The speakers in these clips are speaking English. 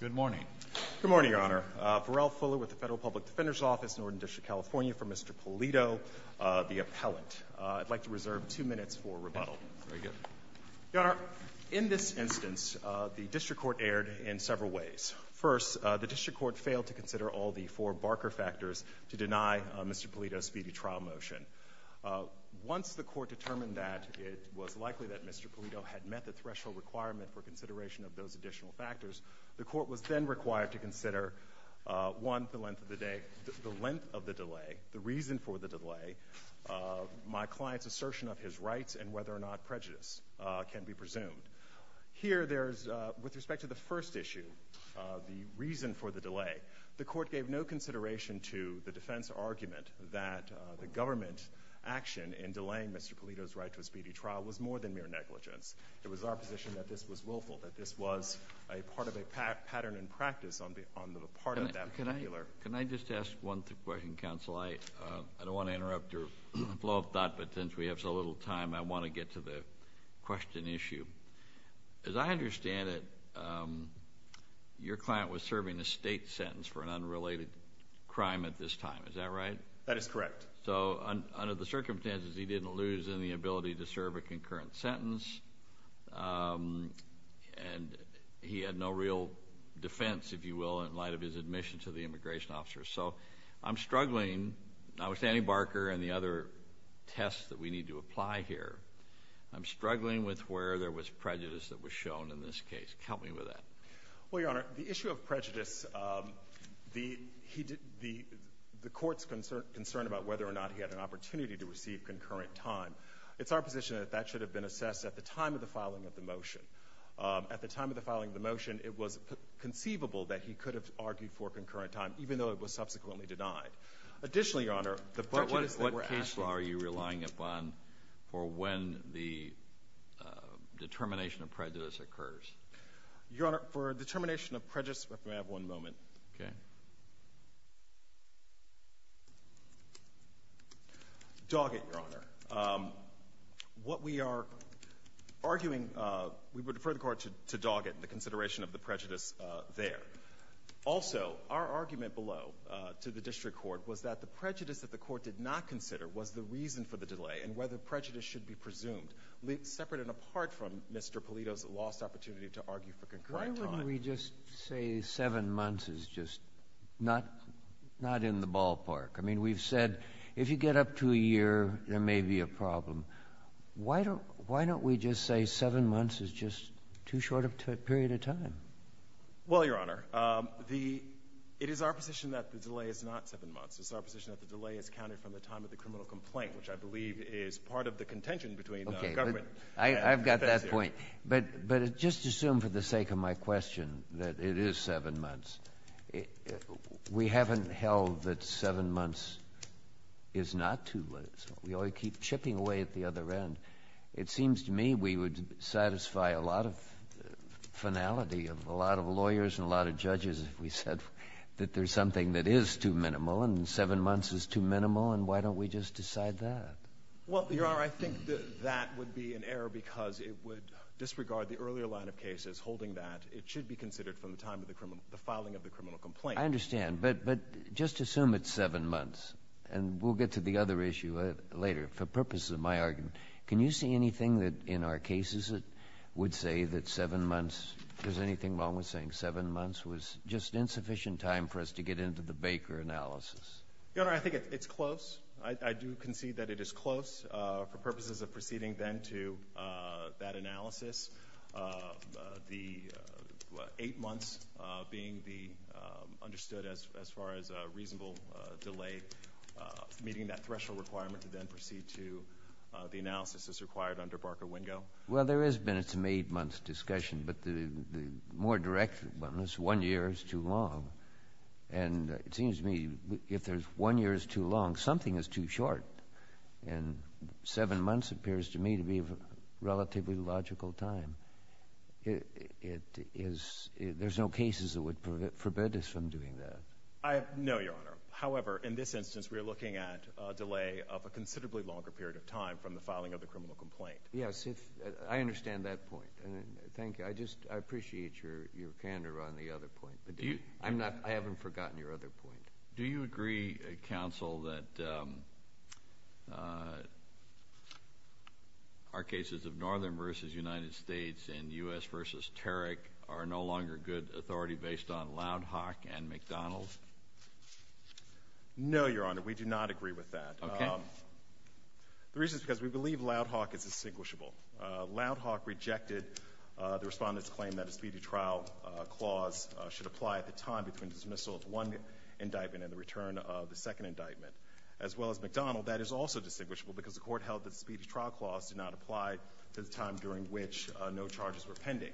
Good morning. Good morning, Your Honor. Pharrell Fuller with the Federal Public Defender's Office, Northern District, California, for Mr. Pulido, the appellant. I'd like to reserve two minutes for rebuttal. Very good. Your Honor, in this instance, the district court erred in several ways. First, the district court failed to consider all the four Barker factors to deny Mr. Pulido's speedy trial motion. Once the court determined that it was likely that Mr. Pulido had met the threshold requirement for consideration of those additional factors, the court was then required to consider, one, the length of the delay, the reason for the delay, my client's assertion of his rights, and whether or not prejudice can be presumed. Here, there's, with respect to the first issue, the reason for the delay, the court gave no consideration to the defense argument that the government action in delaying Mr. Pulido's right to a speedy trial was more than mere negligence. It was our position that this was willful, that this was a part of a pattern in practice on the part of that particular... Can I just ask one question, counsel? I don't want to interrupt your flow of thought, but since we have so little time, I want to get to the question issue. As I understand it, your client was serving a state sentence for an unrelated crime at this time. Is that right? That is correct. So under the circumstances, he didn't lose any ability to serve a concurrent sentence, and he had no real defense, if you will, in light of his admission to the immigration officer. So I'm struggling, not with Annie Barker and the other tests that we need to apply here, I'm struggling with where there was prejudice that was shown in this case. Help me with that. Well, Your Honor, the issue of prejudice, the court's concern about whether or not he had an opportunity to receive concurrent time, it's our position that that should have been assessed at the time of the filing of the motion. At the time of the filing of the motion, it was conceivable that he could have argued for concurrent time, even though it was subsequently denied. Additionally, Your Honor, the prejudice that we're asking... But what case law are you relying upon for when the determination of prejudice occurs? Your Honor, for determination of prejudice, if I may have one moment. Okay. Doggett, Your Honor. What we are arguing, we would defer the Court to Doggett in the consideration of the prejudice there. Also, our argument below to the district court was that the prejudice that the court did not consider was the reason for the delay, and whether prejudice should be presumed, separate and apart from Mr. Polito's lost opportunity to argue for concurrent time. Why don't we just say seven months is just not in the ballpark? I mean, we've said if you get up to a year, there may be a problem. Why don't we just say seven months is just too short of a period of time? Well, Your Honor, the — it is our position that the delay is not seven months. It's our position that the delay is counted from the time of the criminal complaint, which I believe is part of the contention between the government and the defense here. Your point. But just assume for the sake of my question that it is seven months. We haven't held that seven months is not too little. We always keep chipping away at the other end. It seems to me we would satisfy a lot of finality of a lot of lawyers and a lot of judges if we said that there's something that is too minimal, and seven months is too minimal, and why don't we just decide that? Well, Your Honor, I think that that would be an error because it would disregard the earlier line of cases holding that it should be considered from the time of the criminal — the filing of the criminal complaint. I understand. But just assume it's seven months. And we'll get to the other issue later. For purposes of my argument, can you see anything that in our cases it would say that seven months — is there anything wrong with saying seven months was just insufficient time for us to get into the Baker analysis? Your Honor, I think it's close. I do concede that it is close. For purposes of proceeding then to that analysis, the eight months being the — understood as far as a reasonable delay, meeting that threshold requirement to then proceed to the analysis as required under Barker-Wingo. Well, there has been some eight-month discussion, but the more direct one is one year is too long. And it seems to me if there's one year is too long, something is too short. And seven months appears to me to be a relatively logical time. It is — there's no cases that would forbid us from doing that. No, Your Honor. However, in this instance, we are looking at a delay of a considerably longer period of time from the filing of the criminal complaint. Yes. I understand that point. Thank you. I just — I appreciate your candor on the other point. But do you — I'm not — I haven't forgotten your other point. Do you agree, Counsel, that our cases of Northern versus United States and U.S. versus Tarrick are no longer good authority based on Loud Hawk and McDonald? No, Your Honor. We do not agree with that. Okay. The reason is because we believe Loud Hawk is distinguishable. Loud Hawk rejected the Respondent's claim that a speedy trial clause should apply at the time between dismissal of one indictment and the return of the second indictment. As well as McDonald, that is also distinguishable because the Court held that the speedy trial clause did not apply to the time during which no charges were pending.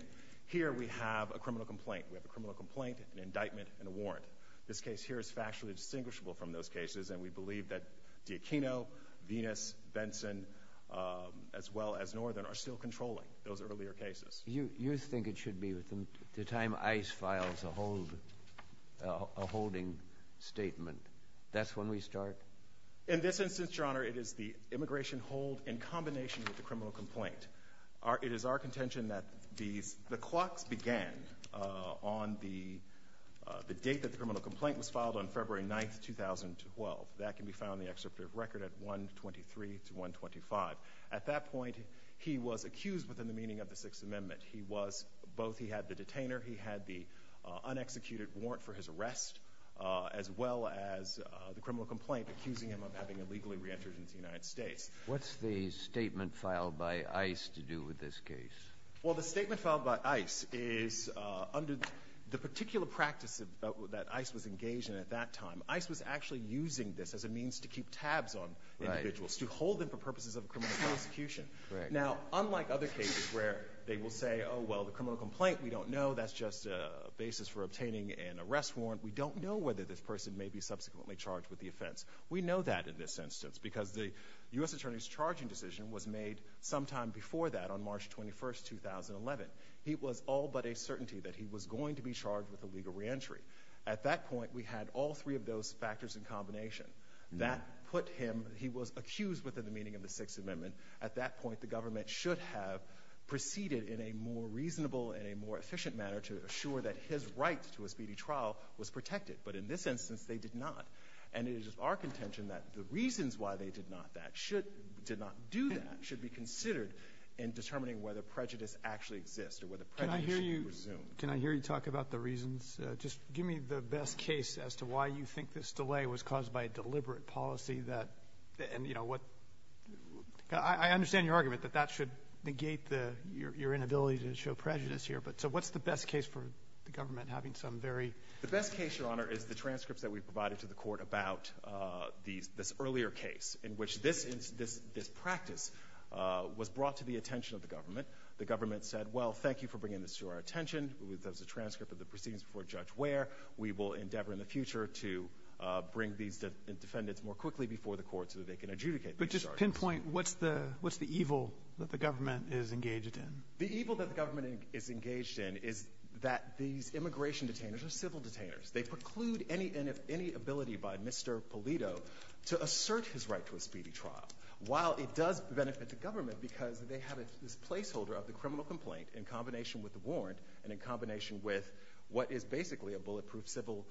Here we have a criminal complaint. We have a criminal complaint, an indictment, and a warrant. This case here is factually distinguishable from those cases, and we believe that D'Aquino, Venus, Benson, as well as Northern, are still controlling those earlier cases. You — you think it should be the time ICE files a hold — a holding statement. That's when we start? In this instance, Your Honor, it is the immigration hold in combination with the criminal complaint. It is our contention that these — the clocks began on the — the date that the criminal complaint was filed on February 9th, 2012. That can be found in the excerpt of record at 1-23 to 1-25. At that point, he was accused within the meaning of the Sixth Amendment. He was — both he had the detainer, he had the unexecuted warrant for his arrest, as well as the criminal complaint accusing him of having illegally reentered into the United States. What's the statement filed by ICE to do with this case? Well, the statement filed by ICE is under the particular practice that ICE was engaged in at that time. ICE was actually using this as a means to keep tabs on individuals, to hold them for purposes of a criminal prosecution. Now, unlike other cases where they will say, oh, well, the criminal complaint, we don't know. That's just a basis for obtaining an arrest warrant. We don't know whether this person may be subsequently charged with the offense. We know that in this instance because the U.S. Attorney's charging decision was made sometime before that on March 21, 2011. He was all but a certainty that he was going to be charged with illegal reentry. At that point, we had all three of those factors in combination. That put him — he was accused within the meaning of the Sixth Amendment. At that point, the government should have proceeded in a more reasonable and a more efficient manner to assure that his right to a speedy trial was protected. But in this instance, they did not. And it is our contention that the reasons why they did not do that should be considered in determining whether prejudice actually exists or whether prejudice should be presumed. Can I hear you talk about the reasons? Just give me the best case as to why you think this delay was caused by a deliberate policy that — and, you know, what — I understand your argument that that should negate your inability to show prejudice here. But so what's the best case for the government having some very — The best case, Your Honor, is the transcripts that we provided to the court about this earlier case, in which this practice was brought to the attention of the government. The government said, well, thank you for bringing this to our attention. That was a transcript of the proceedings before Judge Ware. We will endeavor in the future to bring these defendants more quickly before the court so that they can adjudicate these charges. But just pinpoint what's the — what's the evil that the government is engaged in? The evil that the government is engaged in is that these immigration detainers are civil detainers. They preclude any ability by Mr. Polito to assert his right to a speedy trial, while it does benefit the government because they have this placeholder of the criminal complaint in combination with the warrant and in combination with what is basically a bulletproof civil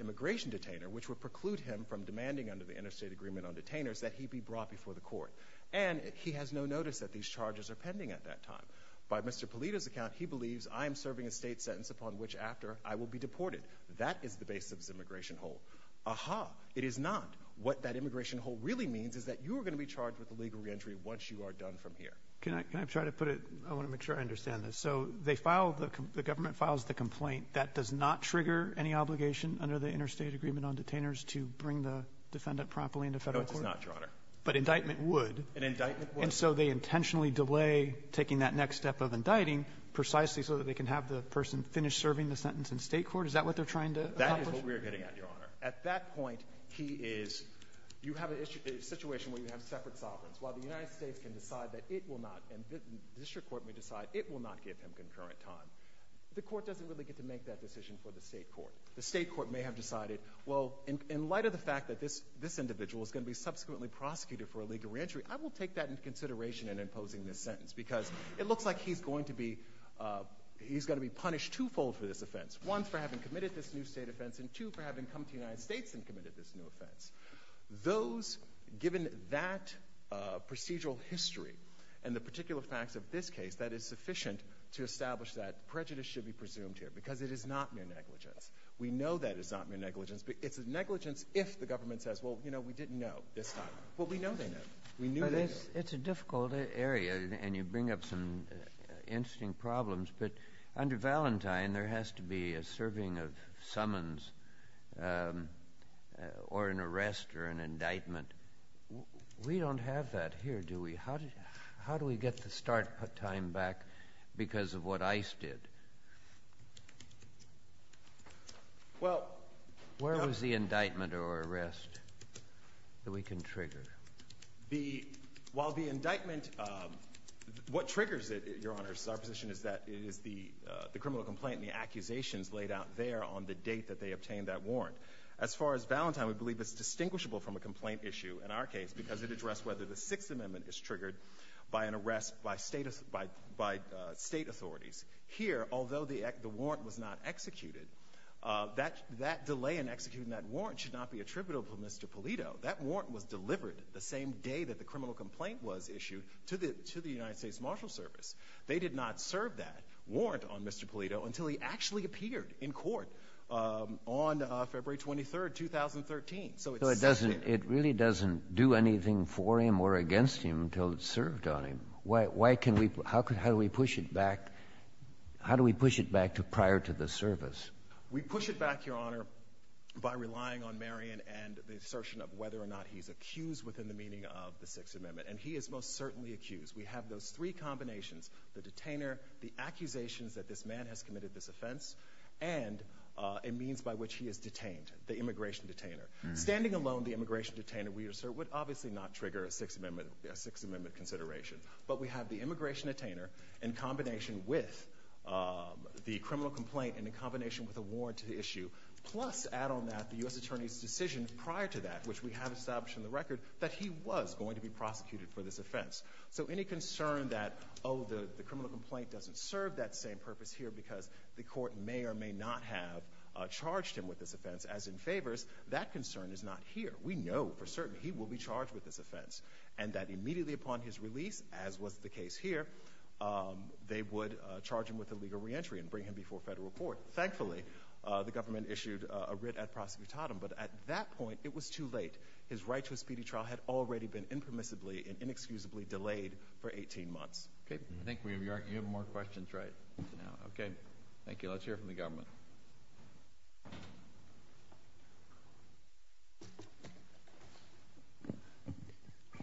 immigration detainer, which would preclude him from demanding under the interstate agreement on detainers that he be brought before the court. And he has no notice that these charges are pending at that time. By Mr. Polito's account, he believes, I am serving a state sentence upon which after I will be deported. That is the basis of this immigration hole. Aha, it is not. What that immigration hole really means is that you are going to be charged with illegal reentry once you are done from here. Can I — can I try to put it — I want to make sure I understand this. So they file the — the government files the complaint. That does not trigger any obligation under the interstate agreement on detainers to bring the defendant properly into Federal court? No, it does not, Your Honor. But indictment would. An indictment would. And so they intentionally delay taking that next step of indicting precisely so that they can have the person finish serving the sentence in State court? Is that what they're trying to accomplish? That is what we are getting at, Your Honor. At that point, he is — you have a situation where you have separate sovereigns. While the United States can decide that it will not — and the district court may decide it will not give him concurrent time, the court doesn't really get to make that decision for the State court. The State court may have decided, well, in light of the fact that this — this individual is going to be subsequently prosecuted for illegal reentry, I will take that into consideration in imposing this sentence, because it looks like he's going to be — he's going to be punished twofold for this offense. One, for having committed this new State offense, and two, for having come to the United States and committed this new offense. Those — given that procedural history and the particular facts of this case, that is sufficient to establish that prejudice should be presumed here, because it is not mere negligence. We know that it's not mere negligence. It's a negligence if the government says, well, you know, we didn't know this time. Well, we know they know. We knew they knew. It's a difficult area, and you bring up some interesting problems, but under Valentine, there has to be a serving of summons or an arrest or an indictment. We don't have that here, do we? How do we get the start time back because of what Ice did? Where was the indictment or arrest that we can trigger? The — while the indictment — what triggers it, Your Honor, is our position is that it is the criminal complaint and the accusations laid out there on the date that they obtained that warrant. As far as Valentine, we believe it's distinguishable from a complaint issue in our case because it addressed whether the Sixth Amendment is triggered by an arrest by State authorities. Here, although the warrant was not executed, that delay in executing that warrant should not be attributable to Mr. Polito. That warrant was delivered the same day that the criminal complaint was issued to the United States Marshal Service. They did not serve that warrant on Mr. Polito until he actually appeared in court on February 23, 2013. So it's — So it doesn't — it really doesn't do anything for him or against him until it's served on him. Why can we — how can — how do we push it back? How do we push it back to prior to the service? We push it back, Your Honor, by relying on Marion and the assertion of whether or not he's accused within the meaning of the Sixth Amendment. And he is most certainly accused. We have those three combinations — the detainer, the accusations that this man has committed this offense, and a means by which he is detained, the immigration detainer. Standing alone, the immigration detainer, we assert, would obviously not trigger a Sixth Amendment consideration. But we have the immigration detainer in combination with the criminal complaint and in combination with a warrant to the issue. Plus, add on that, the U.S. attorney's decision prior to that, which we have established in the record, that he was going to be prosecuted for this offense. So any concern that, oh, the criminal complaint doesn't serve that same purpose here because the court may or may not have charged him with this offense, as in favors, that concern is not here. We know for certain he will be charged with this offense. And that immediately upon his release, as was the case here, they would charge him with illegal reentry and bring him before federal court. Thankfully, the government issued a writ ad prosecutatum. But at that point, it was too late. His right to a speedy trial had already been impermissibly and inexcusably delayed for 18 months. Okay. I think we have more questions right now. Okay. Thank you. Let's hear from the government.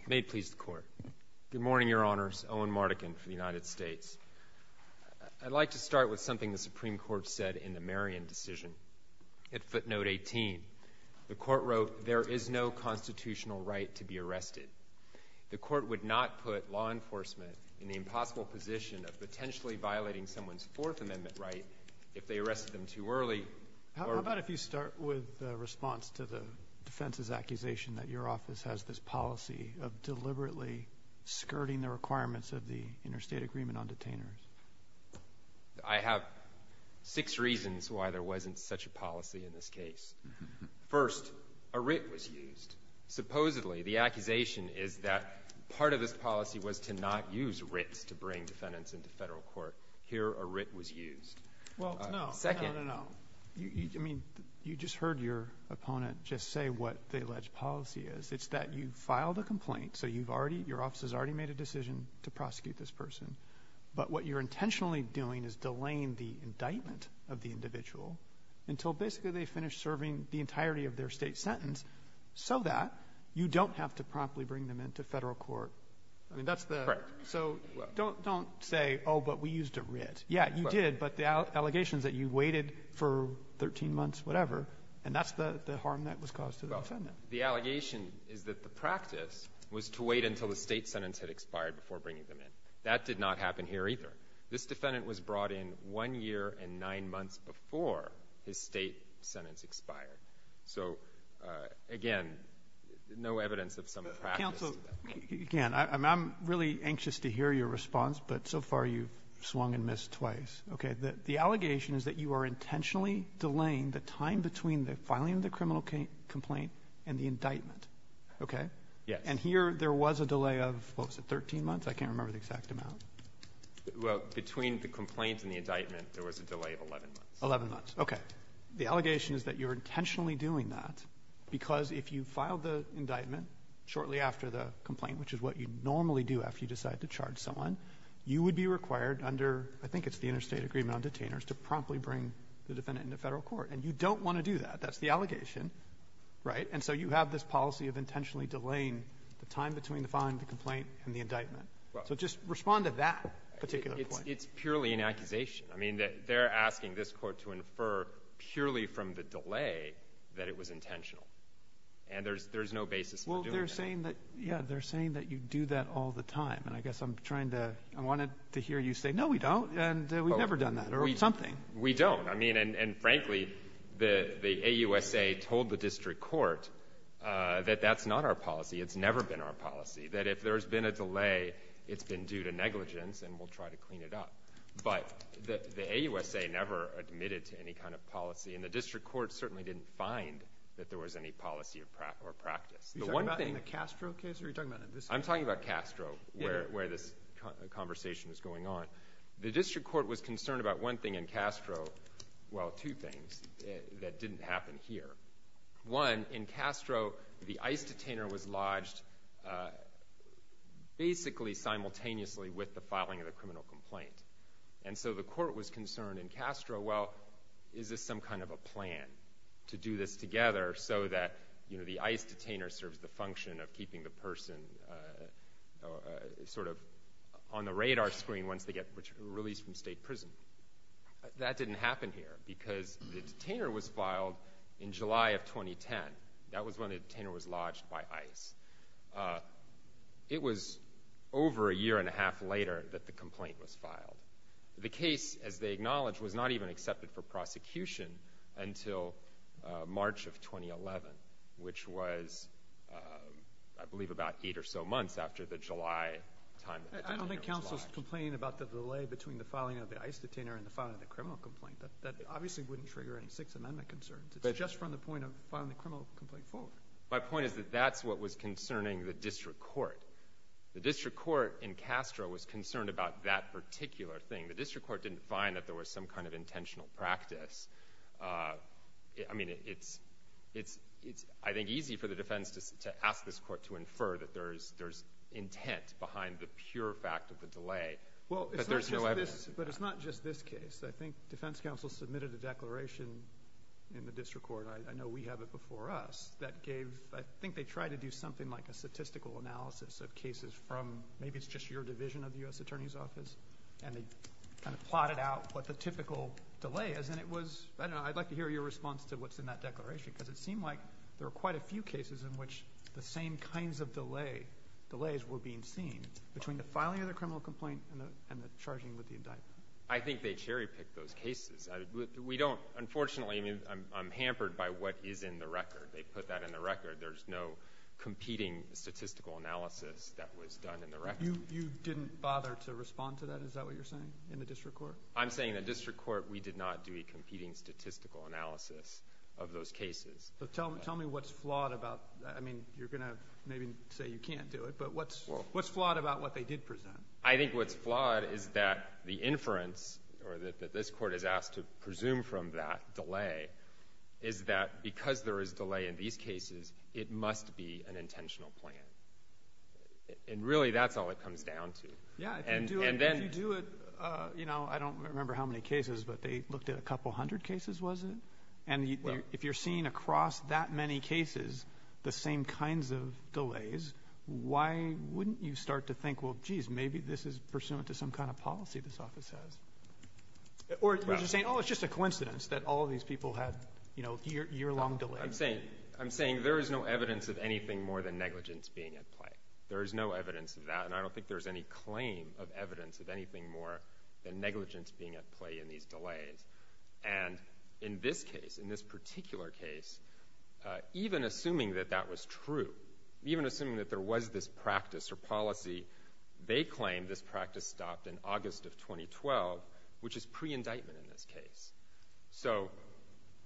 May it please the Court. Good morning, Your Honors. Owen Mardikin for the United States. I'd like to start with something the Supreme Court said in the Merriam decision. At footnote 18, the Court wrote, There is no constitutional right to be arrested. The Court would not put law enforcement in the impossible position of potentially violating someone's Fourth Amendment right if they arrested them too early or How about if you start with a response to the defense's accusation that your office has this policy of deliberately skirting the requirements of the interstate agreement on detainers? I have six reasons why there wasn't such a policy in this case. First, a writ was used. Supposedly, the accusation is that part of this policy was to not use writs to bring defendants into federal court. Here, a writ was used. Well, no. No, no, no. It's that you filed a complaint, so you've already — your office has already made a decision to prosecute this person. But what you're intentionally doing is delaying the indictment of the individual until basically they finish serving the entirety of their State sentence, so that you don't have to promptly bring them into federal court. I mean, that's the — Correct. So don't say, oh, but we used a writ. Yeah, you did, but the allegations that you waited for 13 months, whatever, and that's the harm that was caused to the defendant. The allegation is that the practice was to wait until the State sentence had expired before bringing them in. That did not happen here, either. This defendant was brought in one year and nine months before his State sentence expired. So, again, no evidence of some practice. Counsel, again, I'm really anxious to hear your response, but so far you've swung and missed twice. Okay. The allegation is that you are intentionally delaying the time between the filing complaint and the indictment. Okay? Yes. And here there was a delay of, what was it, 13 months? I can't remember the exact amount. Well, between the complaint and the indictment, there was a delay of 11 months. Eleven months. Okay. The allegation is that you're intentionally doing that because if you filed the indictment shortly after the complaint, which is what you normally do after you decide to charge someone, you would be required under, I think it's the interstate agreement on detainers, to promptly bring the defendant into Federal court. And you don't want to do that. That's the allegation, right? And so you have this policy of intentionally delaying the time between the filing of the complaint and the indictment. So just respond to that particular point. It's purely an accusation. I mean, they're asking this Court to infer purely from the delay that it was intentional. And there's no basis for doing that. Well, they're saying that, yeah, they're saying that you do that all the time. And I guess I'm trying to – I wanted to hear you say, no, we don't, and we've done nothing. We don't. I mean, and frankly, the AUSA told the district court that that's not our policy. It's never been our policy, that if there's been a delay, it's been due to negligence and we'll try to clean it up. But the AUSA never admitted to any kind of policy, and the district court certainly didn't find that there was any policy or practice. You're talking about in the Castro case, or are you talking about in this case? I'm talking about Castro, where this conversation is going on. The district court was concerned about one thing in Castro – well, two things that didn't happen here. One, in Castro, the ICE detainer was lodged basically simultaneously with the filing of the criminal complaint. And so the court was concerned in Castro, well, is this some kind of a plan to do this together so that, you know, the ICE detainer serves the function of keeping the person sort of on the radar screen once they get released from state prison? That didn't happen here, because the detainer was filed in July of 2010. That was when the detainer was lodged by ICE. It was over a year and a half later that the complaint was filed. The case, as they acknowledged, was not even accepted for prosecution until March of 2011, which was, I believe, about eight or so months after the July time that the detainer was lodged. I don't think counsel's complaining about the delay between the filing of the ICE detainer and the filing of the criminal complaint. That obviously wouldn't trigger any Sixth Amendment concerns. It's just from the point of filing the criminal complaint forward. My point is that that's what was concerning the district court. The district court in Castro was concerned about that particular thing. The district court didn't find that there was some kind of intentional practice. I mean, it's, I think, easy for the defense to ask this court to infer that there's intent behind the pure fact of the delay, but there's no evidence. But it's not just this case. I think defense counsel submitted a declaration in the district court, I know we have it before us, that gave, I think they tried to do something like a statistical analysis of cases from, maybe it's just your division of the U.S. Attorney's Office, and they kind of plotted out what the typical delay is. And it was, I don't know, I'd like to hear your response to what's in that declaration, because it seemed like there were quite a few cases in which the same kinds of delays were being seen between the filing of the criminal complaint and the charging with the indictment. I think they cherry-picked those cases. We don't, unfortunately, I mean, I'm hampered by what is in the record. They put that in the record. There's no competing statistical analysis that was done in the record. You didn't bother to respond to that, is that what you're saying, in the district court? I'm saying in the district court, we did not do a competing statistical analysis of those cases. So tell me what's flawed about that. I mean, you're going to maybe say you can't do it, but what's flawed about what they did present? I think what's flawed is that the inference, or that this Court has asked to presume from that delay, is that because there is delay in these cases, it must be an intentional plan. And really, that's all it comes down to. Yeah, if you do it, you know, I don't remember how many cases, but they looked at a couple hundred cases, was it? And if you're seeing across that many cases the same kinds of delays, why wouldn't you start to think, well, geez, maybe this is pursuant to some kind of policy this office has? Or is it saying, oh, it's just a coincidence that all these people had, you know, year-long delays? I'm saying there is no evidence of anything more than negligence being at play. There is no evidence of that. And I don't think there's any claim of evidence of anything more than negligence being at play in these delays. And in this case, in this particular case, even assuming that that was true, even assuming that there was this practice or policy, they claim this practice stopped in August of 2012, which is pre-indictment in this case. So,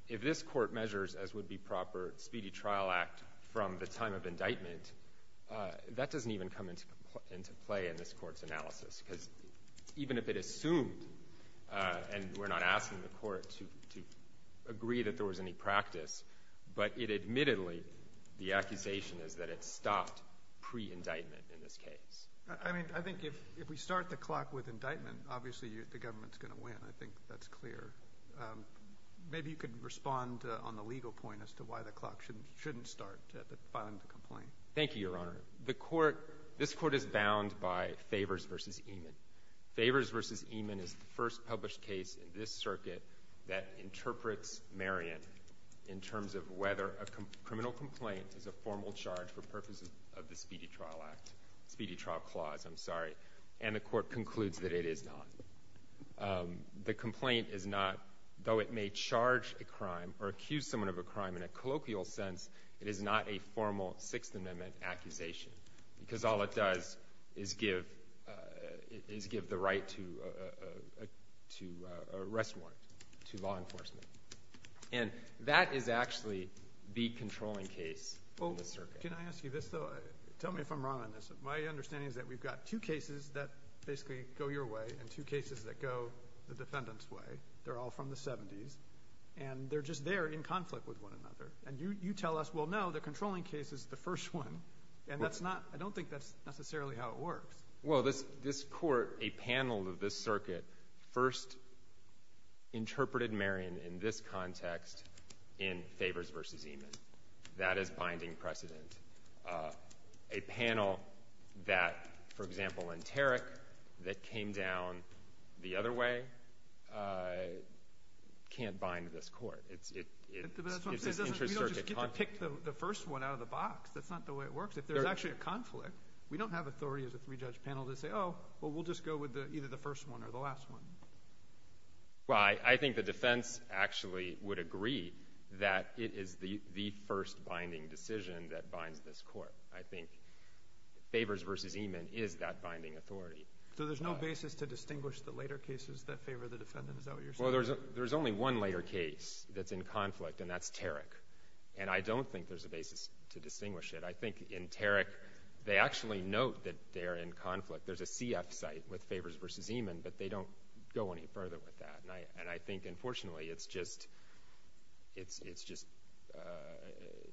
if this Court measures, as would be proper, Speedy Trial Act from the time of indictment, that doesn't even come into play in this Court's analysis. Because even if it assumed, and we're not asking the Court to agree that there was any practice, but it admittedly, the accusation is that it stopped pre-indictment in this case. I mean, I think if we start the clock with indictment, obviously the government's going to win. I think that's clear. Maybe you could respond on the legal point as to why the clock shouldn't start filing the complaint. Thank you, Your Honor. The Court, this Court is bound by Favors v. Eman. Favors v. Eman is the first published case in this circuit that interprets Marion in terms of whether a criminal complaint is a formal charge for purposes of the Speedy Trial Act, Speedy Trial Clause. I'm sorry. And the Court concludes that it is not. The complaint is not, though it may charge a crime or accuse someone of a crime in a colloquial sense, it is not a formal Sixth Amendment accusation. Because all it does is give the right to arrest warrant to law enforcement. And that is actually the controlling case in the circuit. Can I ask you this, though? Tell me if I'm wrong on this. My understanding is that we've got two cases that basically go your way and two cases that go the defendant's way. They're all from the 70s. And they're just there in conflict with one another. And you tell us, well, no, the controlling case is the first one. And that's not, I don't think that's necessarily how it works. Well, this Court, a panel of this circuit, first interpreted Marion in this context in Favors v. Eman. That is binding precedent. A panel that, for example, Lenteric, that came down the other way, can't bind this Court. But that's what I'm saying. We don't just get to pick the first one out of the box. That's not the way it works. If there's actually a conflict, we don't have authority as a three-judge panel to say, oh, well, we'll just go with either the first one or the last one. Well, I think the defense actually would agree that it is the first binding decision that binds this Court. I think Favors v. Eman is that binding authority. So there's no basis to distinguish the later cases that favor the defendant? Is that what you're saying? Well, there's only one later case that's in conflict, and that's Tarrick. And I don't think there's a basis to distinguish it. I think in Tarrick, they actually note that they're in conflict. There's a CF site with Favors v. Eman, but they don't go any further with that. And I think, unfortunately, it's just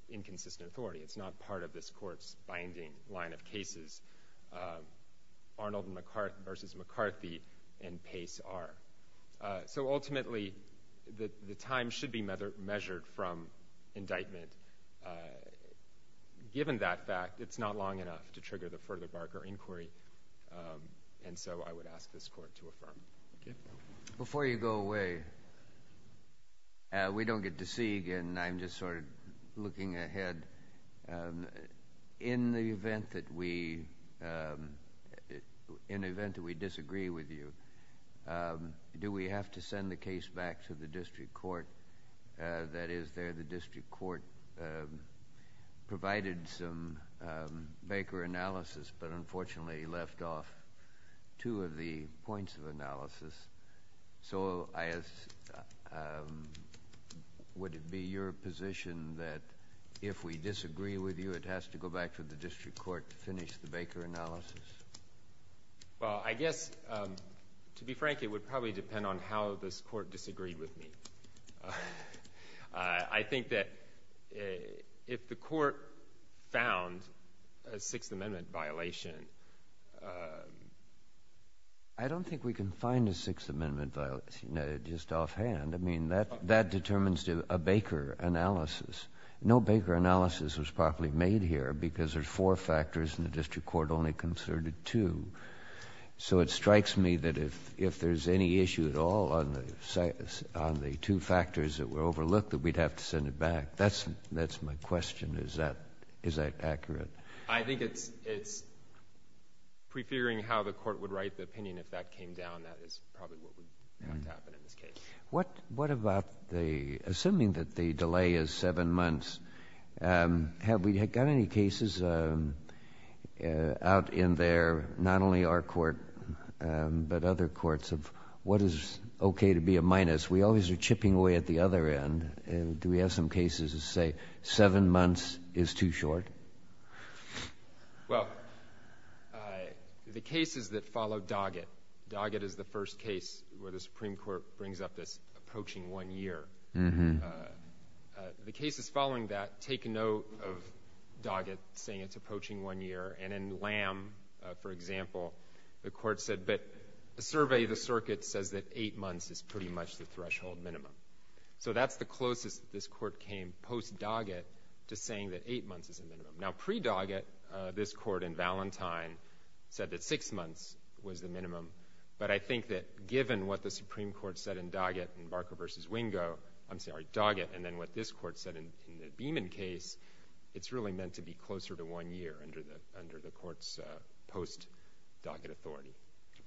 inconsistent authority. It's not part of this Court's binding line of cases. Arnold v. McCarthy and Pace are. So ultimately, the time should be measured from indictment. Given that fact, it's not long enough to trigger the further Barker inquiry. And so I would ask this Court to affirm. Before you go away, we don't get to see you again. I'm just sort of looking ahead. In the event that we disagree with you, do we have to send the case back to the district court? That is, there the district court provided some Baker analysis, but unfortunately left off two of the points of analysis. So would it be your position that if we disagree with you, it has to go back to the district court to finish the Baker analysis? Well, I guess, to be frank, it would probably depend on how this Court disagreed with me. I think that if the Court found a Sixth Amendment violation, I don't think we can find a Sixth Amendment violation just offhand. I mean, that determines a Baker analysis. No Baker analysis was properly made here because there's four factors and the district court only considered two. So it strikes me that if there's any issue at all on the two factors that were overlooked, that we'd have to send it back. That's my question. Is that accurate? I think it's prefiguring how the Court would write the opinion if that came down. That is probably what would happen in this case. What about the, assuming that the delay is seven months, have we got any cases out in there, not only our Court, but other courts of what is okay to be a minus? We always are chipping away at the other end. Do we have some cases that say seven months is too short? Well, the cases that follow Doggett, Doggett is the first case where the Supreme Court brings up this approaching one year. The cases following that take note of Doggett saying it's approaching one year. And in Lamb, for example, the Court said, but the survey of the circuit says that eight months is pretty much the threshold minimum. So that's the closest that this Court came post-Doggett to saying that eight months is a minimum. Now, pre-Doggett, this Court in Valentine said that six months was the minimum. But I think that given what the Supreme Court said in Doggett in Barker v. Wingo, I'm sorry, Doggett, and then what this Court said in the Beeman case, it's really meant to be closer to one year under the Court's post-Doggett authority.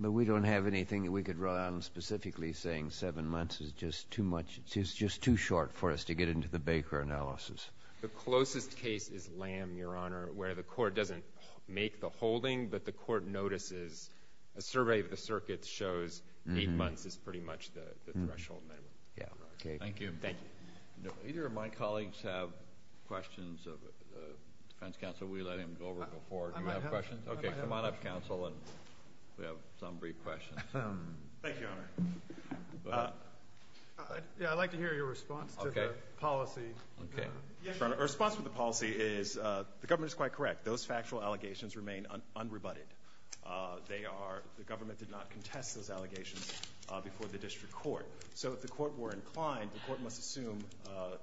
But we don't have anything that we could run on specifically saying seven months is just too much, it's just too short for us to get into the Baker analysis. The closest case is Lamb, Your Honor, where the Court doesn't make the holding, but the Court notices a survey of the circuit shows eight months is pretty much the threshold minimum. Thank you. Either of my colleagues have questions of defense counsel? We let him go over before. Okay, come on up, counsel, and we have some brief questions. Thank you, Your Honor. Yeah, I'd like to hear your response to the policy. Your Honor, the response to the policy is the government is quite correct. Those factual allegations remain unrebutted. The government did not contest those allegations before the district court. So if the court were inclined, the court must assume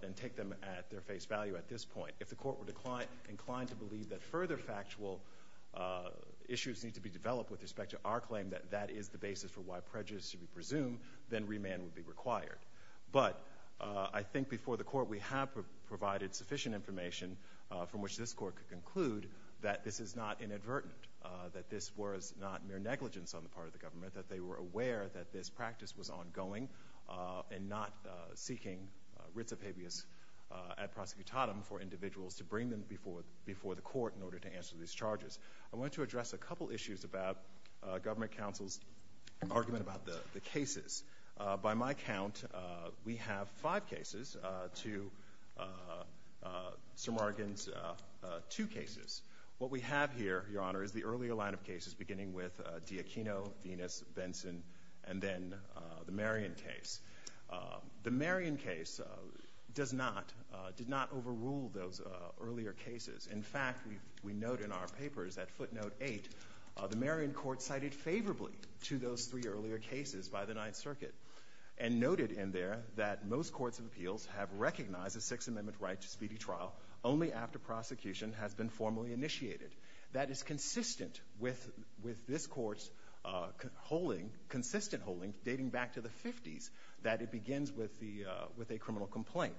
and take them at their face value at this point. If the court were inclined to believe that further factual issues need to be developed with respect to our claim that that is the basis for why prejudice should be presumed, then remand would be required. But I think before the court we have provided sufficient information from which this court could conclude that this is not inadvertent, that this was not mere negligence on the part of the government, that they were aware that this practice was ongoing and not seeking writs of habeas ad prosecutatum for individuals to bring them before the court in order to answer these charges. I want to address a couple issues about government counsel's argument about the cases. By my count, we have five cases to Sir Morgan's two cases. What we have here, Your Honor, is the earlier line of cases beginning with D'Acchino, Venus, Benson, and then the Marion case. The Marion case does not overrule those earlier cases. In fact, we note in our papers that footnote eight, the Marion court cited favorably to those three earlier cases by the Ninth Circuit and noted in there that most courts of appeals have recognized a Sixth Amendment right to speedy trial only after prosecution has been formally initiated. That is consistent with this Court's holding, consistent holding, dating back to the 50s, that it begins with a criminal complaint.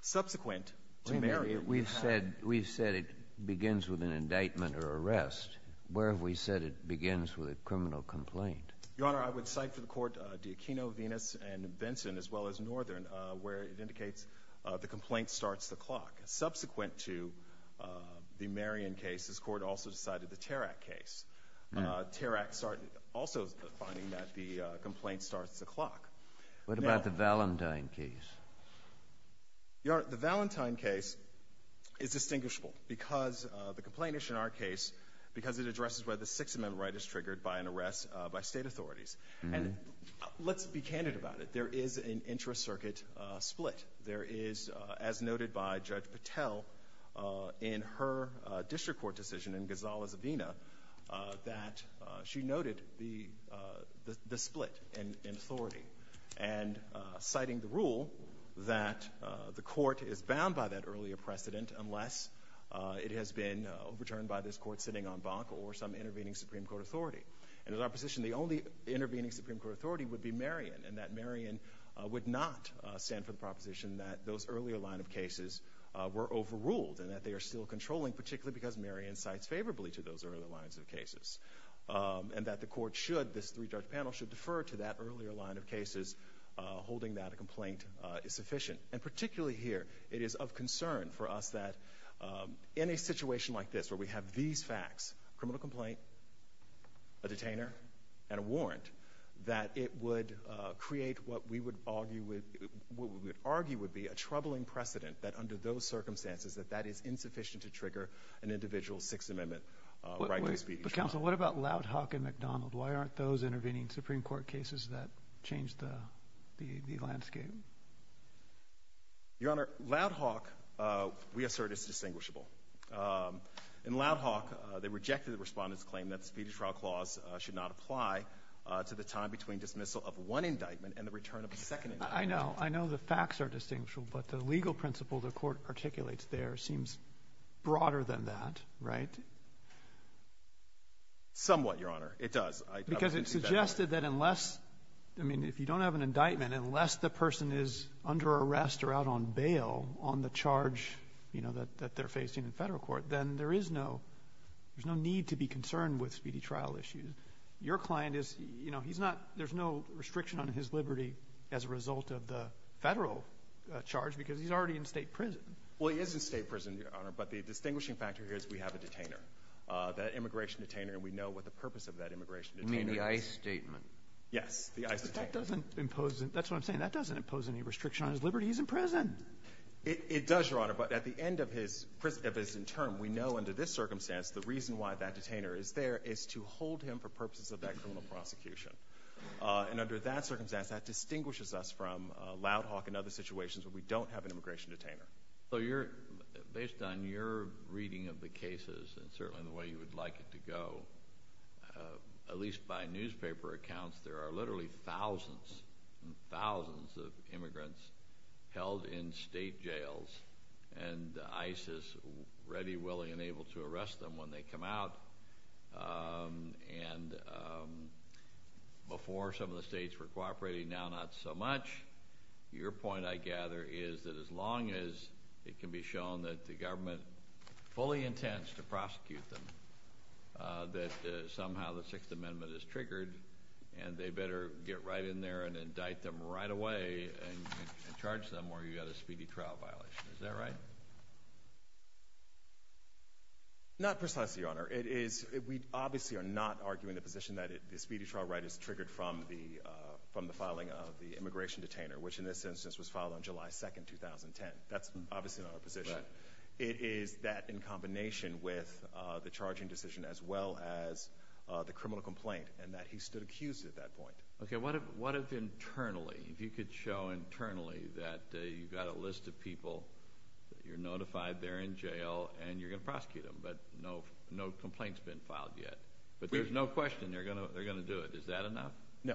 Subsequent to Marion. We've said it begins with an indictment or arrest. Where have we said it begins with a criminal complaint? Your Honor, I would cite for the court D'Acchino, Venus, and Benson, as well as Northern, where it indicates the complaint starts the clock. Subsequent to the Marion case, this Court also decided the Tarrac case. Tarrac also finding that the complaint starts the clock. What about the Valentine case? Your Honor, the Valentine case is distinguishable because the complainant in our case, because it addresses where the Sixth Amendment right is triggered by an arrest by state authorities. And let's be candid about it. There is an intra-circuit split. There is, as noted by Judge Patel in her district court decision in Gonzalez-Avina, that she noted the split in authority. And citing the rule that the court is bound by that earlier precedent unless it has been overturned by this Court sitting on Bach or some intervening Supreme Court authority. And in our position, the only intervening Supreme Court authority would be Marion, and that Marion would not stand for the proposition that those earlier line of cases were overruled and that they are still controlling, particularly because Marion cites favorably to those earlier lines of cases. And that the court should, this three-judge panel should defer to that earlier line of cases, holding that a complaint is sufficient. And particularly here, it is of concern for us that in a situation like this, where we have these facts, criminal complaint, a detainer, and a warrant, that it would create what we would argue would be a troubling precedent that under those circumstances, that that is insufficient to trigger an individual's Sixth Amendment right to speedy trial. But Counsel, what about Loudhawk and McDonald? Why aren't those intervening Supreme Court cases that change the landscape? Your Honor, Loudhawk, we assert, is distinguishable. In Loudhawk, they rejected the Respondent's claim that the Speedy Trial Clause should not apply to the time between dismissal of one indictment and the return of a second indictment. I know. I know the facts are distinguishable, but the legal principle the Court articulates there seems broader than that, right? Somewhat, Your Honor. It does. Because it suggested that unless, I mean, if you don't have an indictment, unless the person is under arrest or out on bail on the charge, you know, that they're facing in Federal court, then there is no need to be concerned with speedy trial issues. Your client is, you know, he's not – there's no restriction on his liberty as a result of the Federal charge because he's already in State prison. Well, he is in State prison, Your Honor. But the distinguishing factor here is we have a detainer, that immigration detainer, and we know what the purpose of that immigration detainer is. You mean the ICE statement? Yes, the ICE statement. But that doesn't impose – that's what I'm saying. That doesn't impose any restriction on his liberty. He's in prison. It does, Your Honor. But at the end of his prison – of his term, we know under this circumstance the reason why that detainer is there is to hold him for purposes of that criminal prosecution. And under that circumstance, that distinguishes us from Loud Hawk and other situations where we don't have an immigration detainer. So you're – based on your reading of the cases and certainly the way you would like it to go, at least by newspaper accounts, there are literally thousands and thousands of immigrants held in State jails and ISIS ready, willing, and able to come out. And before, some of the states were cooperating. Now, not so much. Your point, I gather, is that as long as it can be shown that the government fully intends to prosecute them, that somehow the Sixth Amendment is triggered, and they better get right in there and indict them right away and charge them or you've got a speedy trial violation. Is that right? Not precisely, Your Honor. It is – we obviously are not arguing the position that the speedy trial right is triggered from the filing of the immigration detainer, which in this instance was filed on July 2, 2010. That's obviously not our position. It is that in combination with the charging decision as well as the criminal complaint and that he stood accused at that point. Okay. What if internally – if you could show internally that you've got a list of that you're notified, they're in jail, and you're going to prosecute them, but no complaint's been filed yet. But there's no question they're going to do it. Is that enough? No.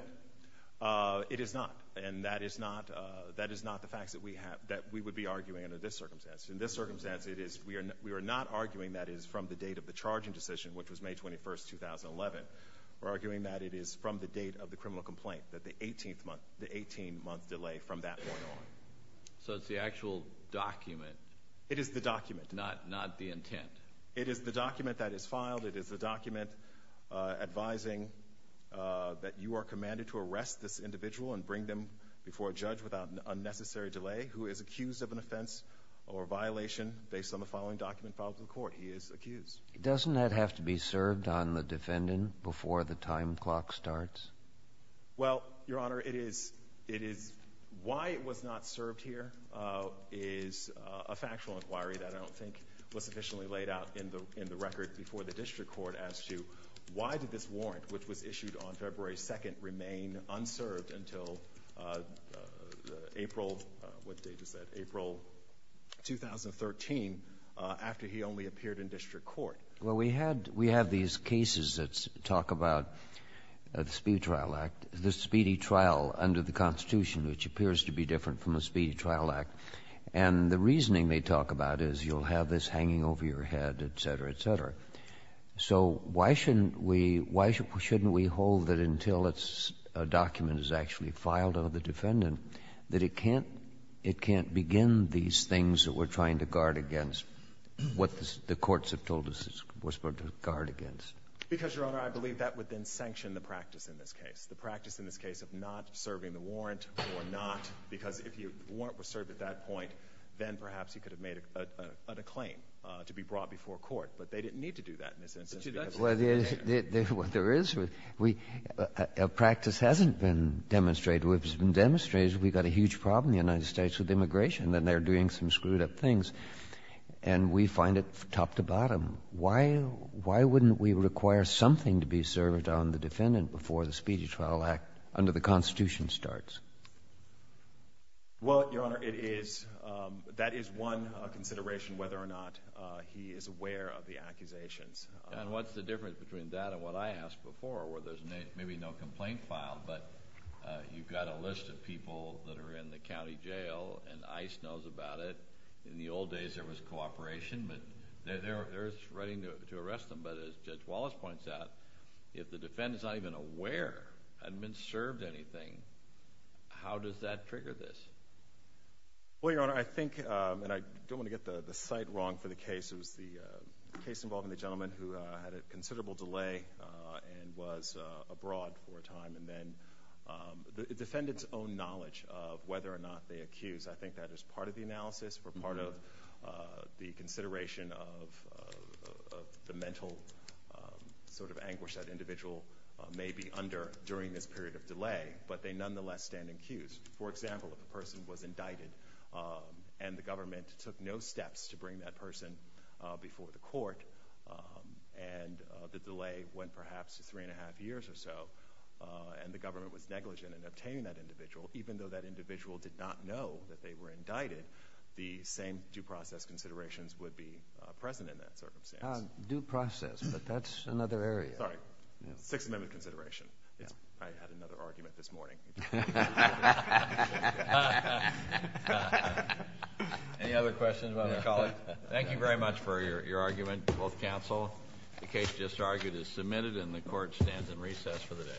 It is not. And that is not the facts that we have – that we would be arguing under this circumstance. In this circumstance, it is – we are not arguing that it is from the date of the charging decision, which was May 21, 2011. We're arguing that it is from the date of the criminal complaint, that the 18-month delay from that point on. So it's the actual document. It is the document. Not the intent. It is the document that is filed. It is the document advising that you are commanded to arrest this individual and bring them before a judge without an unnecessary delay who is accused of an offense or violation based on the following document filed to the court. He is accused. Doesn't that have to be served on the defendant before the time clock starts? Well, Your Honor, it is – it is – why it was not served here is a factual inquiry that I don't think was sufficiently laid out in the – in the record before the district court as to why did this warrant, which was issued on February 2nd, remain unserved until April – what date is that? April 2013, after he only appeared in district court. Well, we had – we have these cases that talk about the Speedy Trial Act. The Speedy Trial under the Constitution, which appears to be different from the Speedy Trial Act. And the reasoning they talk about is you'll have this hanging over your head, et cetera, et cetera. So why shouldn't we – why shouldn't we hold that until it's – a document is actually filed on the defendant that it can't – it can't begin these things that we're trying to guard against, what the courts have told us it's supposed to guard against? Because, Your Honor, I believe that would then sanction the practice in this case, the practice in this case of not serving the warrant or not, because if you – the warrant was served at that point, then perhaps you could have made a – an acclaim to be brought before court. But they didn't need to do that in this instance. Well, there is – we – a practice hasn't been demonstrated. What has been demonstrated is we've got a huge problem in the United States with a lot of screwed-up things, and we find it top to bottom. Why – why wouldn't we require something to be served on the defendant before the Speedy Trial Act under the Constitution starts? Well, Your Honor, it is – that is one consideration, whether or not he is aware of the accusations. And what's the difference between that and what I asked before, where there's maybe no complaint filed, but you've got a list of people that are in the county jail, and ICE knows about it. In the old days, there was cooperation, but they're ready to arrest them. But as Judge Wallace points out, if the defendant's not even aware hadn't been served anything, how does that trigger this? Well, Your Honor, I think – and I don't want to get the site wrong for the case. It was the case involving the gentleman who had a considerable delay and was abroad for a time. And then the defendant's own knowledge of whether or not they accused, I think that is part of the analysis or part of the consideration of the mental sort of anguish that individual may be under during this period of delay. But they nonetheless stand accused. For example, if a person was indicted and the government took no steps to bring that person before the court, and the delay went perhaps to three and a half years or so, and the government was negligent in obtaining that individual, even though that individual did not know that they were indicted, the same due process considerations would be present in that circumstance. Due process, but that's another area. Sorry. Sixth Amendment consideration. I had another argument this morning. Any other questions about our colleague? Thank you very much for your argument. Both counsel, the case just argued is submitted, and the court stands in recess for the day. All rise. The court for this session stands adjourned.